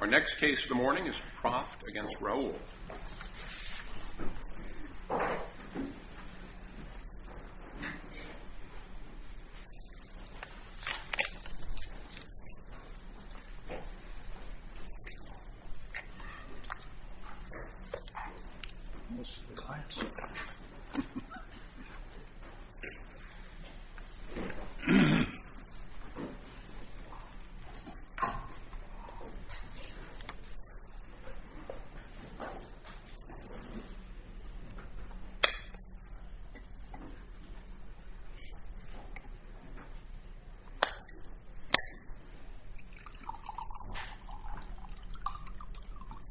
Our next case of the morning is Proft v. Raoul. Proft v. Raoul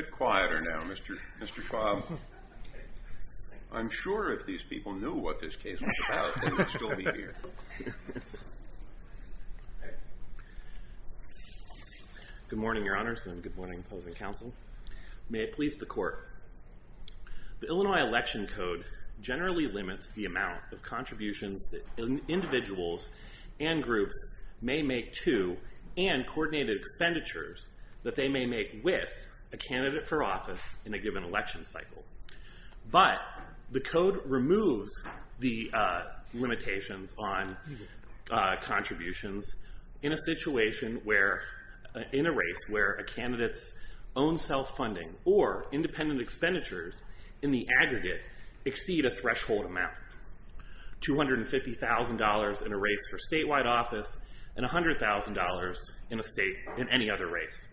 The Illinois Election Code generally limits the amount of contributions that an individual and groups may make to, and coordinated expenditures that they may make with, a candidate for office in a given election cycle. But the Code removes the limitations on contributions in a race where a candidate's own self-funding or independent expenditures in the aggregate exceed a threshold amount. $250,000 in a race for statewide office and $100,000 in a state in any other race.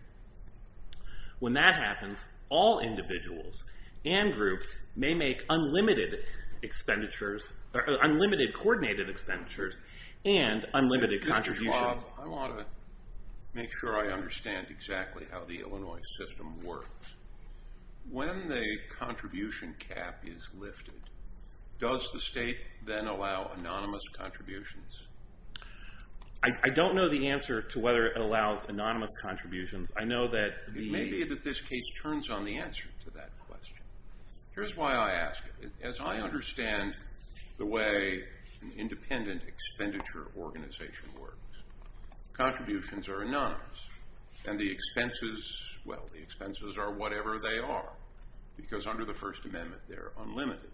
When that happens, all individuals and groups may make unlimited expenditures, or unlimited coordinated expenditures, and unlimited contributions. Mr. Schwab, I want to make sure I understand exactly how the Illinois system works. When the contribution cap is lifted, does the state then allow anonymous contributions? I don't know the answer to whether it allows anonymous contributions. I know that the... It may be that this case turns on the answer to that question. Here's why I ask it. As I understand the way an independent expenditure organization works, contributions are anonymous, and the expenses, well, the expenses are whatever they are, because under the First Amendment, they're unlimited.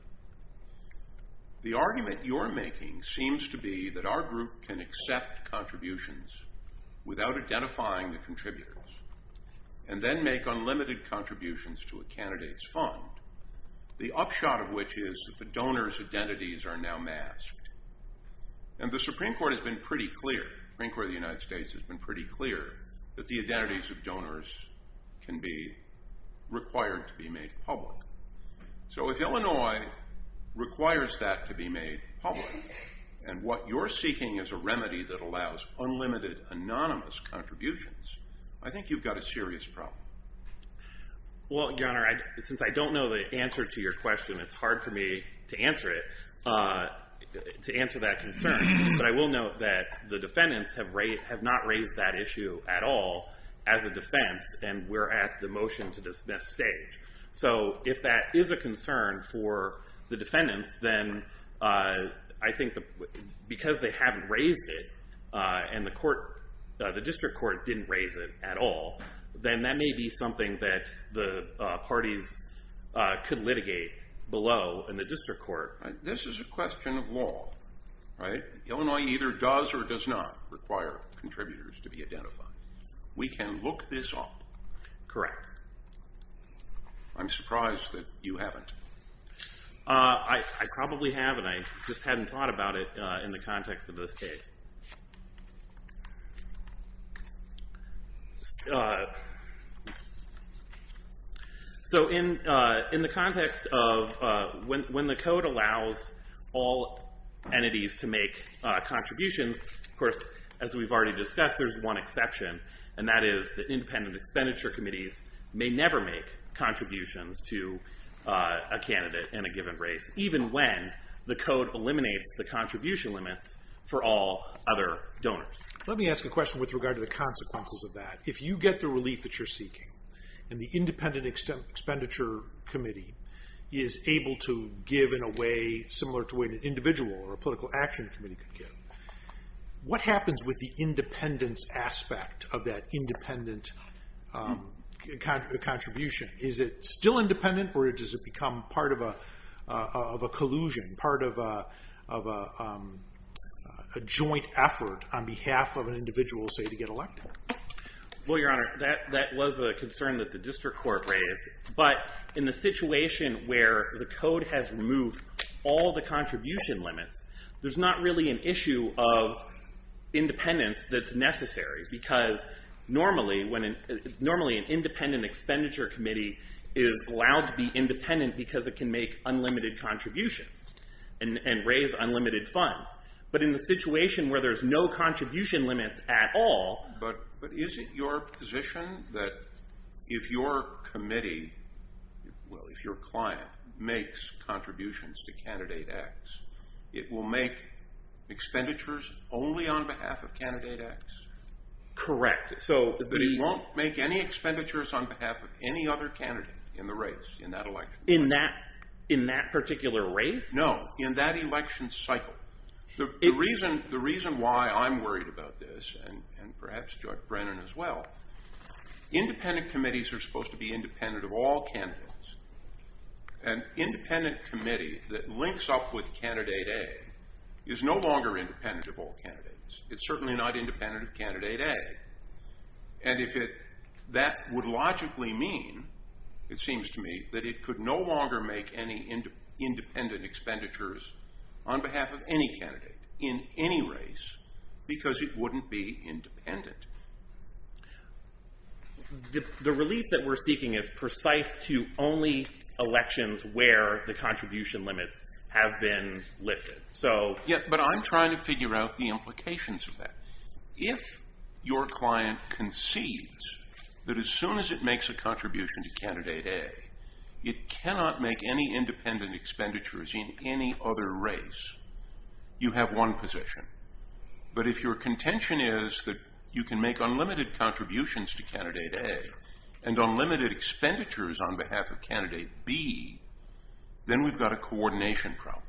The argument you're making seems to be that our group can accept contributions without identifying the contributors, and then make unlimited contributions to a candidate's fund, the upshot of which is that the donor's identities are now masked. And the Supreme Court has been pretty clear, the Supreme Court of the United States has been pretty clear, that the identities of donors can be required to be made public. So if Illinois requires that to be made public, and what you're seeking is a remedy that allows unlimited anonymous contributions, I think you've got a serious problem. Well, Your Honor, since I don't know the answer to your question, it's hard for me to answer it, to answer that concern. But I will note that the defendants have not raised that issue at all as a defense, and we're at the motion to dismiss stage. So if that is a concern for the defendants, then I think because they haven't raised it, and the court, the district court didn't raise it at all, then that may be something that the parties could litigate below in the district court. This is a question of law, right? Illinois either does or does not require contributors to be identified. We can look this up. Correct. I'm surprised that you haven't. I probably have, and I just hadn't thought about it in the context of this case. So in the context of when the code allows all entities to make contributions, of course, as we've already discussed, there's one exception, and that is that independent expenditure committees may never make contributions to a candidate in a given race, even when the code eliminates the contribution limits for all other donors. Let me ask a question with regard to the consequences of that. If you get the relief that you're seeking, and the independent expenditure committee is able to give in a way similar to an individual or a political action committee could give, what happens with the independence aspect of that independent contribution? Is it still independent, or does it become part of a collusion, part of a joint effort on behalf of an individual, say, to get elected? Well, Your Honor, that was a concern that the district court raised, but in the situation where the code has removed all the contribution limits, there's not really an issue of independence that's necessary, because normally an independent expenditure committee is allowed to be independent because it can make unlimited contributions and raise unlimited funds, but in the situation where there's no contribution limits at all... But is it your position that if your committee, well, if your client makes contributions to Candidate X, it will make expenditures only on behalf of Candidate X? Correct. But it won't make any expenditures on behalf of any other candidate in the race in that election? In that particular race? No, in that election cycle. The reason why I'm worried about this, and perhaps Judge Brennan as well, independent committees are supposed to be independent of all candidates. An independent committee that links up with Candidate A is no longer independent of all candidates. It's certainly not independent of Candidate A, and that would logically mean, it seems to me, that it could no longer make any independent expenditures on behalf of any candidate in any race, because it wouldn't be independent. The relief that we're seeking is precise to only elections where the contribution limits have been lifted, so... Yeah, but I'm trying to figure out the implications of that. If your client concedes that as soon as it makes a contribution to Candidate A, it cannot make any independent expenditures in any other race, you have one position. But if your contention is that you can make unlimited contributions to Candidate A, and unlimited expenditures on behalf of Candidate B, then we've got a coordination problem.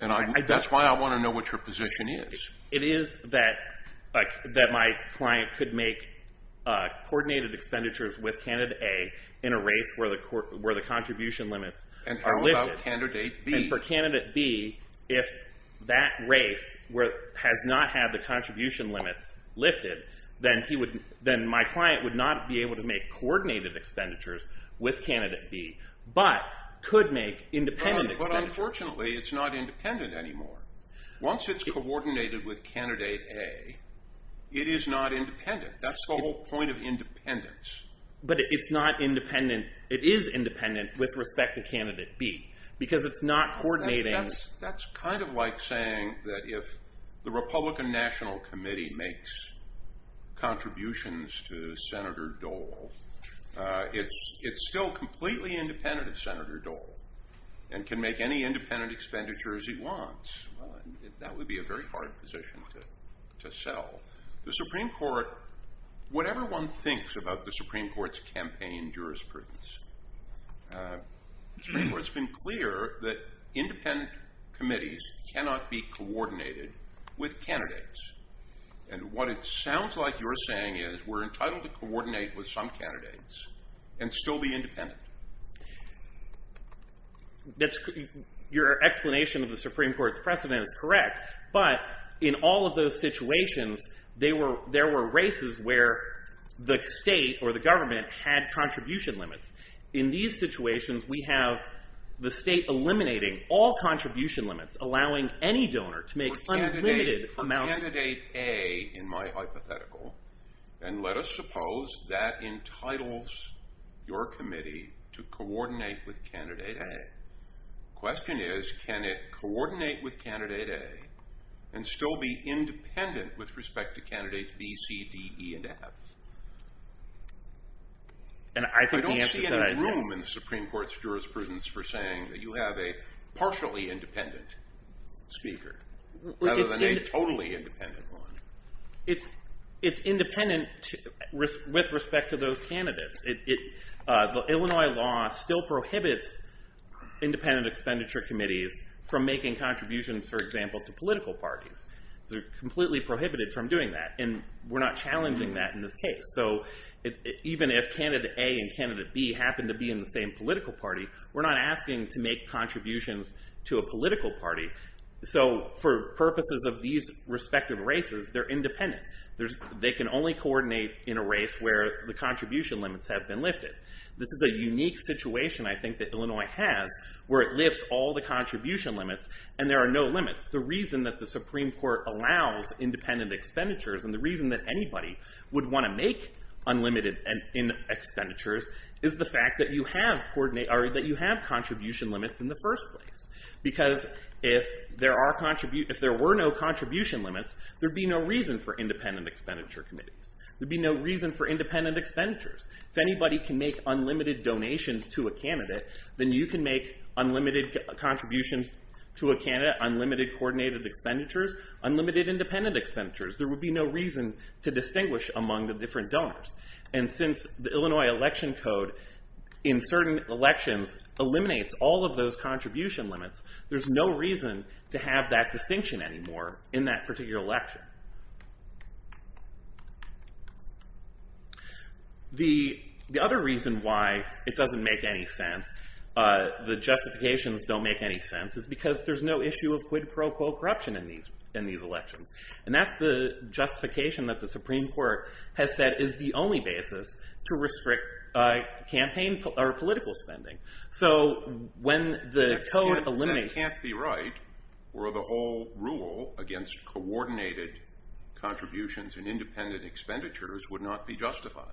And that's why I want to know what your position is. It is that my client could make coordinated expenditures with Candidate A in a race where the contribution limits are lifted. And how about Candidate B? And for Candidate B, if that race has not had the contribution limits lifted, then my client would not be able to make coordinated expenditures with Candidate B, but could make independent expenditures. But unfortunately, it's not independent anymore. Once it's coordinated with Candidate A, it is not independent. That's the whole point of independence. But it is independent with respect to Candidate B, because it's not coordinating... That's kind of like saying that if the Republican National Committee makes contributions to and can make any independent expenditures he wants, that would be a very hard position to sell. The Supreme Court, whatever one thinks about the Supreme Court's campaign jurisprudence, the Supreme Court's been clear that independent committees cannot be coordinated with candidates. And what it sounds like you're saying is we're entitled to coordinate with some candidates and still be independent. Your explanation of the Supreme Court's precedent is correct, but in all of those situations, there were races where the state or the government had contribution limits. In these situations, we have the state eliminating all contribution limits, allowing any donor to make unlimited amounts... in my hypothetical. And let us suppose that entitles your committee to coordinate with Candidate A. The question is, can it coordinate with Candidate A and still be independent with respect to candidates B, C, D, E, and F? I don't see any room in the Supreme Court's jurisprudence for saying that you have a totally independent one. It's independent with respect to those candidates. The Illinois law still prohibits independent expenditure committees from making contributions, for example, to political parties. They're completely prohibited from doing that, and we're not challenging that in this case. So even if Candidate A and Candidate B happen to be in the same political party, we're not asking to make contributions to a political party. So for purposes of these respective races, they're independent. They can only coordinate in a race where the contribution limits have been lifted. This is a unique situation, I think, that Illinois has, where it lifts all the contribution limits, and there are no limits. The reason that the Supreme Court allows independent expenditures, and the reason that anybody would want to make unlimited expenditures, is the fact that you have contribution limits in the first place. Because if there were no contribution limits, there would be no reason for independent expenditure committees. There would be no reason for independent expenditures. If anybody can make unlimited donations to a candidate, then you can make unlimited contributions to a candidate, unlimited coordinated expenditures, unlimited independent expenditures. There would be no reason to distinguish among the different donors. And since the Illinois Election Code, in certain elections, eliminates all of those contribution limits, there's no reason to have that distinction anymore in that particular election. The other reason why it doesn't make any sense, the justifications don't make any sense, is because there's no issue of quid pro quo corruption in these elections. And that's the justification that the Supreme Court has said is the only basis to restrict campaign or political spending. So when the code eliminates... That can't be right, where the whole rule against coordinated contributions and independent expenditures would not be justified.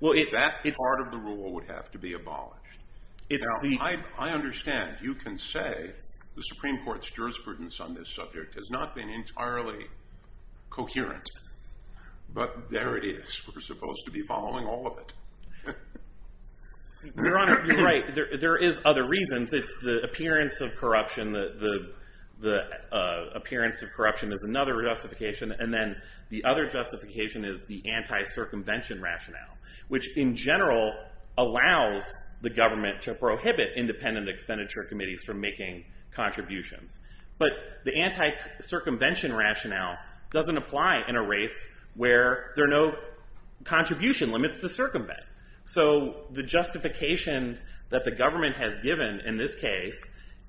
That part of the rule would have to be abolished. Now, I understand you can say the Supreme Court's jurisprudence on this subject has not been entirely coherent, but there it is. We're supposed to be following all of it. Your Honor, you're right. There is other reasons. It's the appearance of corruption. The appearance of corruption is another justification. And then the other justification is the anti-circumvention rationale, which in general allows the government to prohibit independent expenditure committees from making contributions. But the anti-circumvention rationale doesn't apply in a race where there are no contribution limits to circumvent. So the justification that the government has given in this case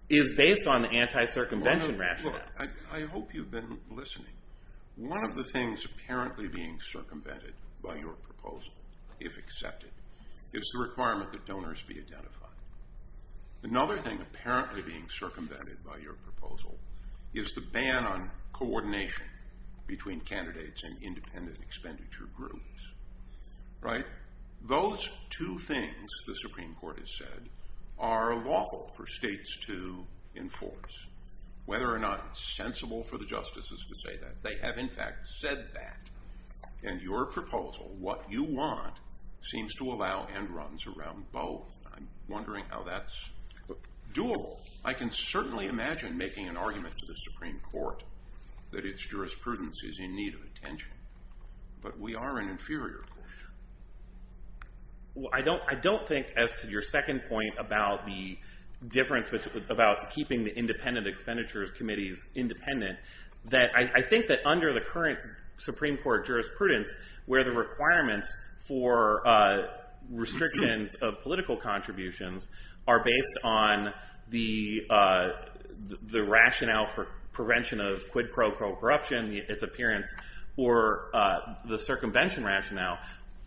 is based on the anti-circumvention rationale. Look, I hope you've been listening. One of the things apparently being circumvented by your proposal, if accepted, is the requirement that donors be identified. Another thing apparently being circumvented by your proposal is the ban on coordination between candidates in independent expenditure groups. Right? Those two things, the Supreme Court has said, are lawful for states to enforce, whether or not it's sensible for the justices to say that. They have, in fact, said that. And your proposal, what you want, seems to allow end runs around both. I'm wondering how that's doable. I can certainly imagine making an argument to the Supreme Court that its jurisprudence is in need of attention. But we are an inferior court. Well, I don't think, as to your second point about the difference about keeping the independent expenditures committees independent, that I think that under the current Supreme Court jurisprudence where the requirements for restrictions of political contributions are based on the rationale for prevention of quid pro quo corruption, its appearance, or the circumvention rationale,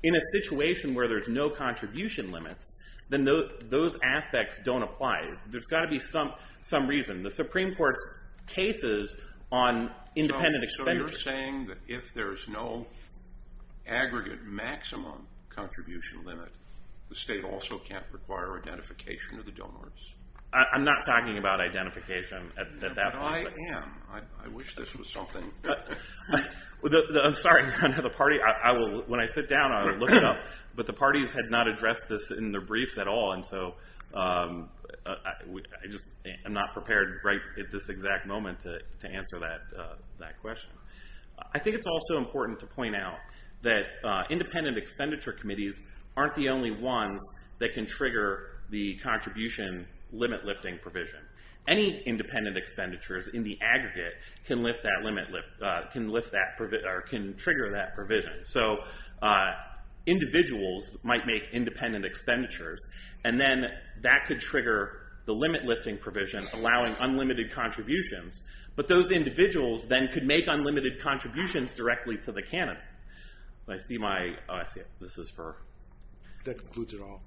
in a situation where there's no contribution limits, then those aspects don't apply. There's got to be some reason. The Supreme Court's case is on independent expenditures. So you're saying that if there's no aggregate maximum contribution limit, the state also can't require identification of the donors? I'm not talking about identification at that point. But I am. I wish this was something. I'm sorry. When I sit down, I'll look it up. But the parties had not addressed this in their briefs at all, and so I'm not prepared right at this exact moment to answer that question. I think it's also important to point out that independent expenditure committees aren't the only ones that can trigger the contribution limit-lifting provision. Any independent expenditures in the aggregate can trigger that provision. So individuals might make independent expenditures, and then that could trigger the limit-lifting provision, allowing unlimited contributions. But those individuals then could make unlimited contributions directly to the canon. Oh, I see it. This is for? That concludes it all.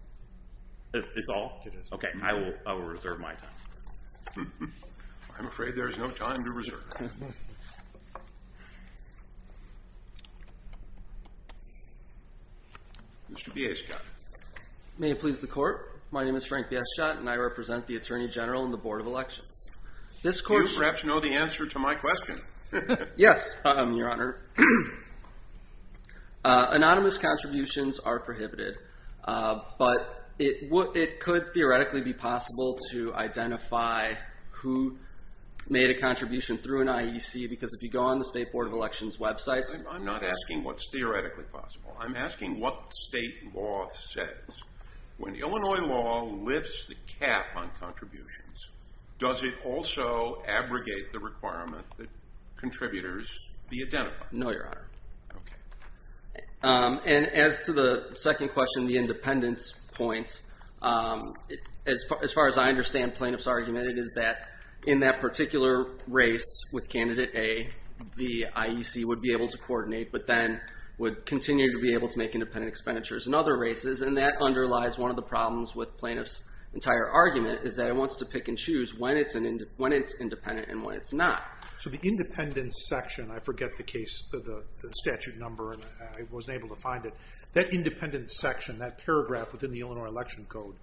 It's all? It is. Okay. I will reserve my time. I'm afraid there is no time to reserve. Mr. Bieschot. May it please the Court. My name is Frank Bieschot, and I represent the Attorney General and the Board of Elections. You perhaps know the answer to my question. Yes, Your Honor. Anonymous contributions are prohibited, but it could theoretically be possible to identify who made a contribution through an IEC, because if you go on the State Board of Elections websites. I'm not asking what's theoretically possible. I'm asking what state law says. When Illinois law lifts the cap on contributions, does it also abrogate the requirement that contributors be identified? No, Your Honor. Okay. And as to the second question, the independence point, as far as I understand plaintiff's argument, it is that in that particular race with candidate A, the IEC would be able to coordinate, but then would continue to be able to make independent expenditures in other races, and that underlies one of the problems with plaintiff's entire argument, is that it wants to pick and choose when it's independent and when it's not. So the independence section, I forget the statute number, and I wasn't able to find it. That independence section, that paragraph within the Illinois Election Code,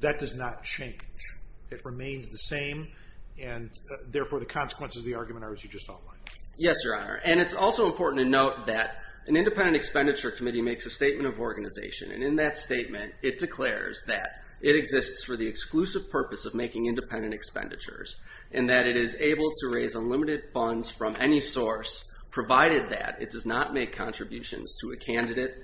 that does not change. It remains the same, and therefore the consequences of the argument are as you just outlined. Yes, Your Honor. makes a statement of organization, and in that statement it declares that it exists for the exclusive purpose of making independent expenditures, and that it is able to raise unlimited funds from any source, provided that it does not make contributions to a candidate,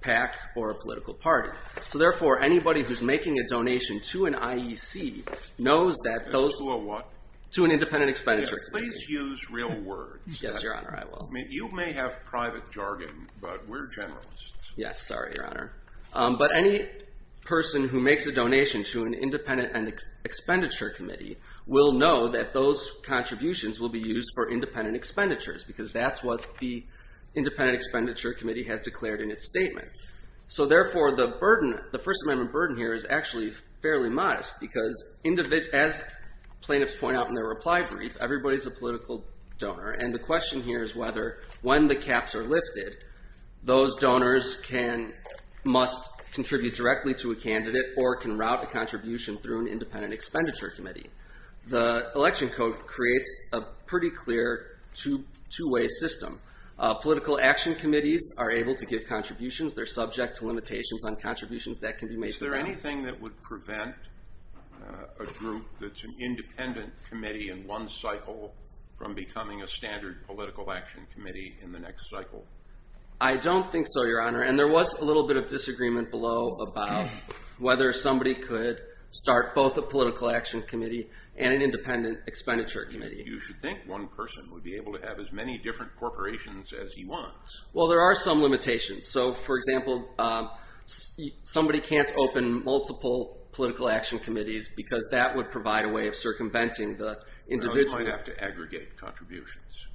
PAC, or a political party. So therefore anybody who's making a donation to an IEC knows that those To a what? To an independent expenditure. Please use real words. Yes, Your Honor, I will. You may have private jargon, but we're generalists. Yes, sorry, Your Honor. But any person who makes a donation to an independent expenditure committee will know that those contributions will be used for independent expenditures, because that's what the independent expenditure committee has declared in its statement. So therefore the first amendment burden here is actually fairly modest, because as plaintiffs point out in their reply brief, everybody's a political donor, and the question here is whether when the caps are lifted, those donors must contribute directly to a candidate or can route a contribution through an independent expenditure committee. The election code creates a pretty clear two-way system. Political action committees are able to give contributions. They're subject to limitations on contributions that can be made to them. Is there anything that would prevent a group that's an independent committee in one cycle from becoming a standard political action committee in the next cycle? I don't think so, Your Honor, and there was a little bit of disagreement below about whether somebody could start both a political action committee and an independent expenditure committee. You should think one person would be able to have as many different corporations as he wants. Well, there are some limitations. So, for example, somebody can't open multiple political action committees, because that would provide a way of circumventing the individual. Well, you might have to aggregate contributions.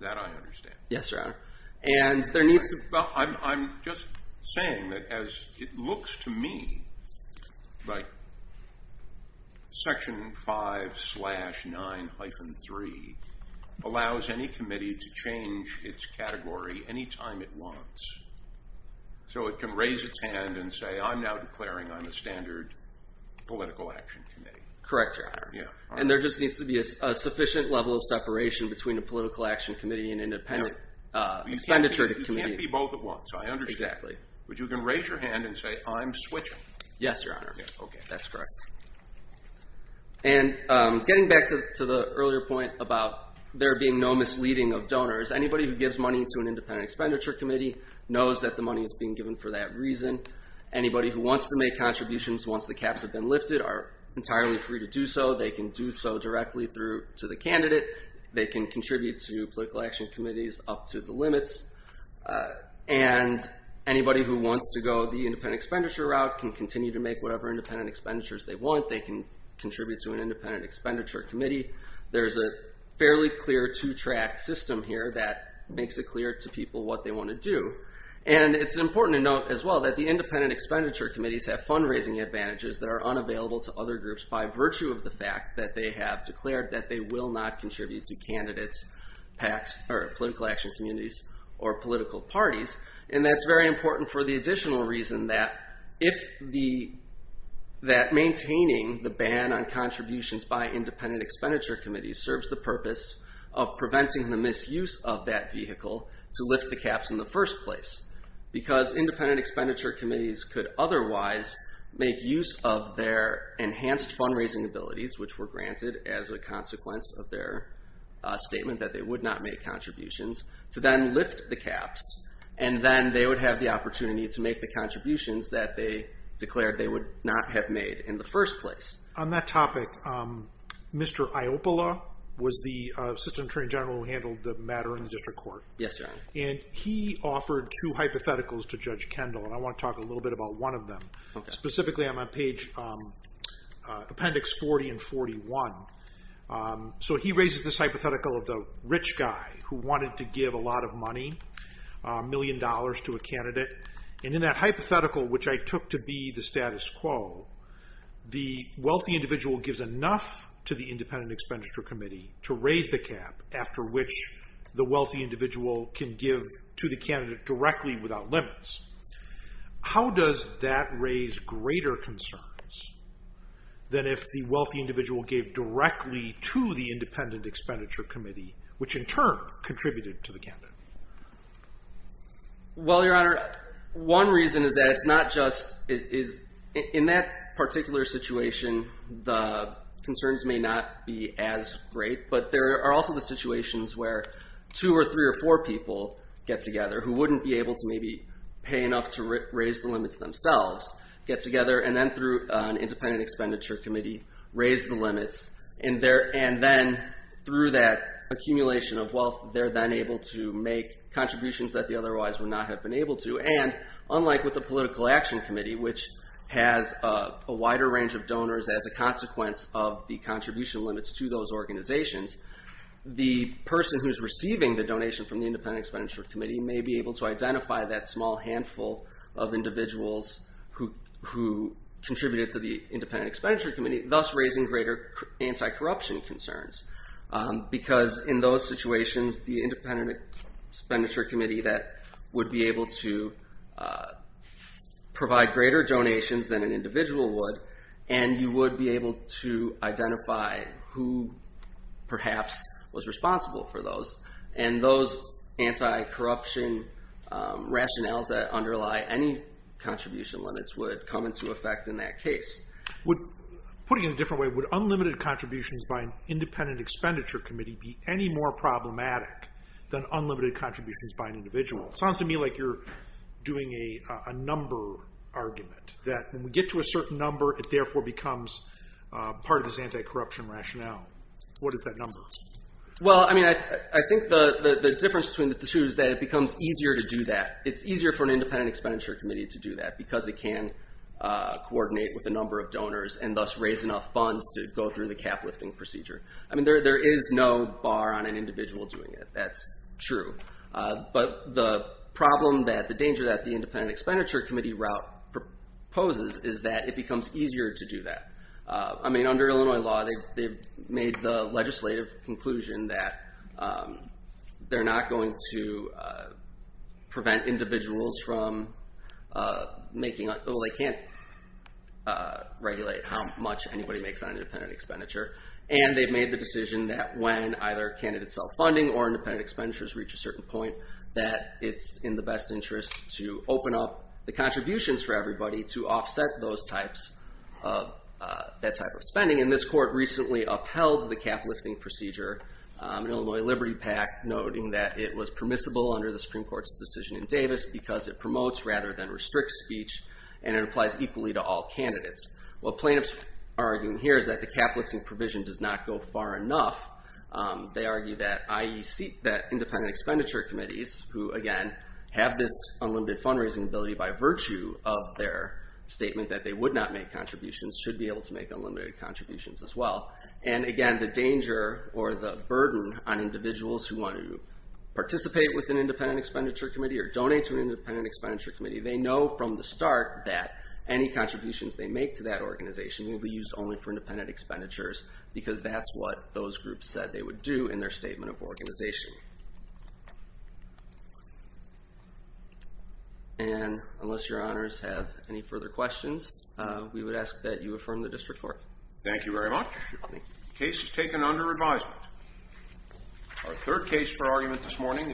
That I understand. Yes, Your Honor. Well, I'm just saying that as it looks to me like Section 5-9-3 allows any committee to change its category any time it wants. So it can raise its hand and say, I'm now declaring I'm a standard political action committee. Correct, Your Honor. And there just needs to be a sufficient level of separation between a standard expenditure committee. You can't be both at once. I understand. Exactly. But you can raise your hand and say, I'm switching. Yes, Your Honor. Okay. That's correct. And getting back to the earlier point about there being no misleading of donors, anybody who gives money to an independent expenditure committee knows that the money is being given for that reason. Anybody who wants to make contributions once the caps have been lifted are entirely free to do so. They can do so directly to the candidate. They can contribute to political action committees up to the limits. And anybody who wants to go the independent expenditure route can continue to make whatever independent expenditures they want. They can contribute to an independent expenditure committee. There's a fairly clear two-track system here that makes it clear to people what they want to do. And it's important to note as well that the independent expenditure committees have fundraising advantages that are unavailable to other groups by virtue of the fact that they have declared that they will not contribute to candidates, PACs, or political action communities, or political parties. And that's very important for the additional reason that if the, that maintaining the ban on contributions by independent expenditure committees serves the purpose of preventing the misuse of that vehicle to lift the caps in the first place. Because independent expenditure committees could otherwise make use of their enhanced fundraising abilities, which were granted as a consequence of their statement that they would not make contributions, to then lift the caps. And then they would have the opportunity to make the contributions that they declared they would not have made in the first place. On that topic, Mr. Ioppola was the Assistant Attorney General who handled the matter in the District Court. Yes, Your Honor. And he offered two hypotheticals to Judge Kendall, and I want to talk a little bit about one of them. Okay. Specifically, I'm on page appendix 40 and 41. So he raises this hypothetical of the rich guy who wanted to give a lot of money, a million dollars to a candidate. And in that hypothetical, which I took to be the status quo, the wealthy individual gives enough to the independent expenditure committee to raise the cap after which the wealthy individual can give to the candidate directly without limits. How does that raise greater concerns than if the wealthy individual gave directly to the independent expenditure committee, which in turn contributed to the candidate? Well, Your Honor, one reason is that it's not just in that particular situation, the concerns may not be as great, but there are also the situations where two or three or four people get paid enough to raise the limits themselves, get together, and then through an independent expenditure committee raise the limits. And then through that accumulation of wealth, they're then able to make contributions that they otherwise would not have been able to. And unlike with the political action committee, which has a wider range of donors as a consequence of the contribution limits to those organizations, the person who's receiving the donation from the independent expenditure committee may be able to identify that small handful of individuals who contributed to the independent expenditure committee, thus raising greater anti-corruption concerns. Because in those situations, the independent expenditure committee that would be able to provide greater donations than an individual would, and you would be able to identify who perhaps was responsible for those. And those anti-corruption rationales that underlie any contribution limits would come into effect in that case. Putting it in a different way, would unlimited contributions by an independent expenditure committee be any more problematic than unlimited contributions by an individual? It sounds to me like you're doing a number argument, that when we get to a certain number, it therefore becomes part of this anti-corruption rationale. What is that number? Well, I mean, I think the difference between the two is that it becomes easier to do that. It's easier for an independent expenditure committee to do that, because it can coordinate with a number of donors and thus raise enough funds to go through the cap lifting procedure. I mean, there is no bar on an individual doing it. That's true. But the problem that the danger that the independent expenditure committee route poses is that it becomes easier to do that. I mean, under Illinois law, they've made the legislative conclusion that they're not going to prevent individuals from making, well, they can't regulate how much anybody makes on an independent expenditure. And they've made the decision that when either candidates sell funding or independent expenditures reach a certain point, that it's in the best interest to open up the contributions for everybody to offset that type of spending. Something in this court recently upheld the cap lifting procedure in Illinois Liberty PAC, noting that it was permissible under the Supreme Court's decision in Davis because it promotes rather than restricts speech, and it applies equally to all candidates. What plaintiffs are arguing here is that the cap lifting provision does not go far enough. They argue that independent expenditure committees, who again have this unlimited fundraising ability by virtue of their statement that they would not make contributions, should be able to make unlimited contributions as well. And again, the danger or the burden on individuals who want to participate with an independent expenditure committee or donate to an independent expenditure committee, they know from the start that any contributions they make to that organization will be used only for independent expenditures because that's what those groups said they would do in their statement of organization. And unless your honors have any further questions, we would ask that you affirm the district court. Thank you very much. The case is taken under advisement. Our third case for argument this morning is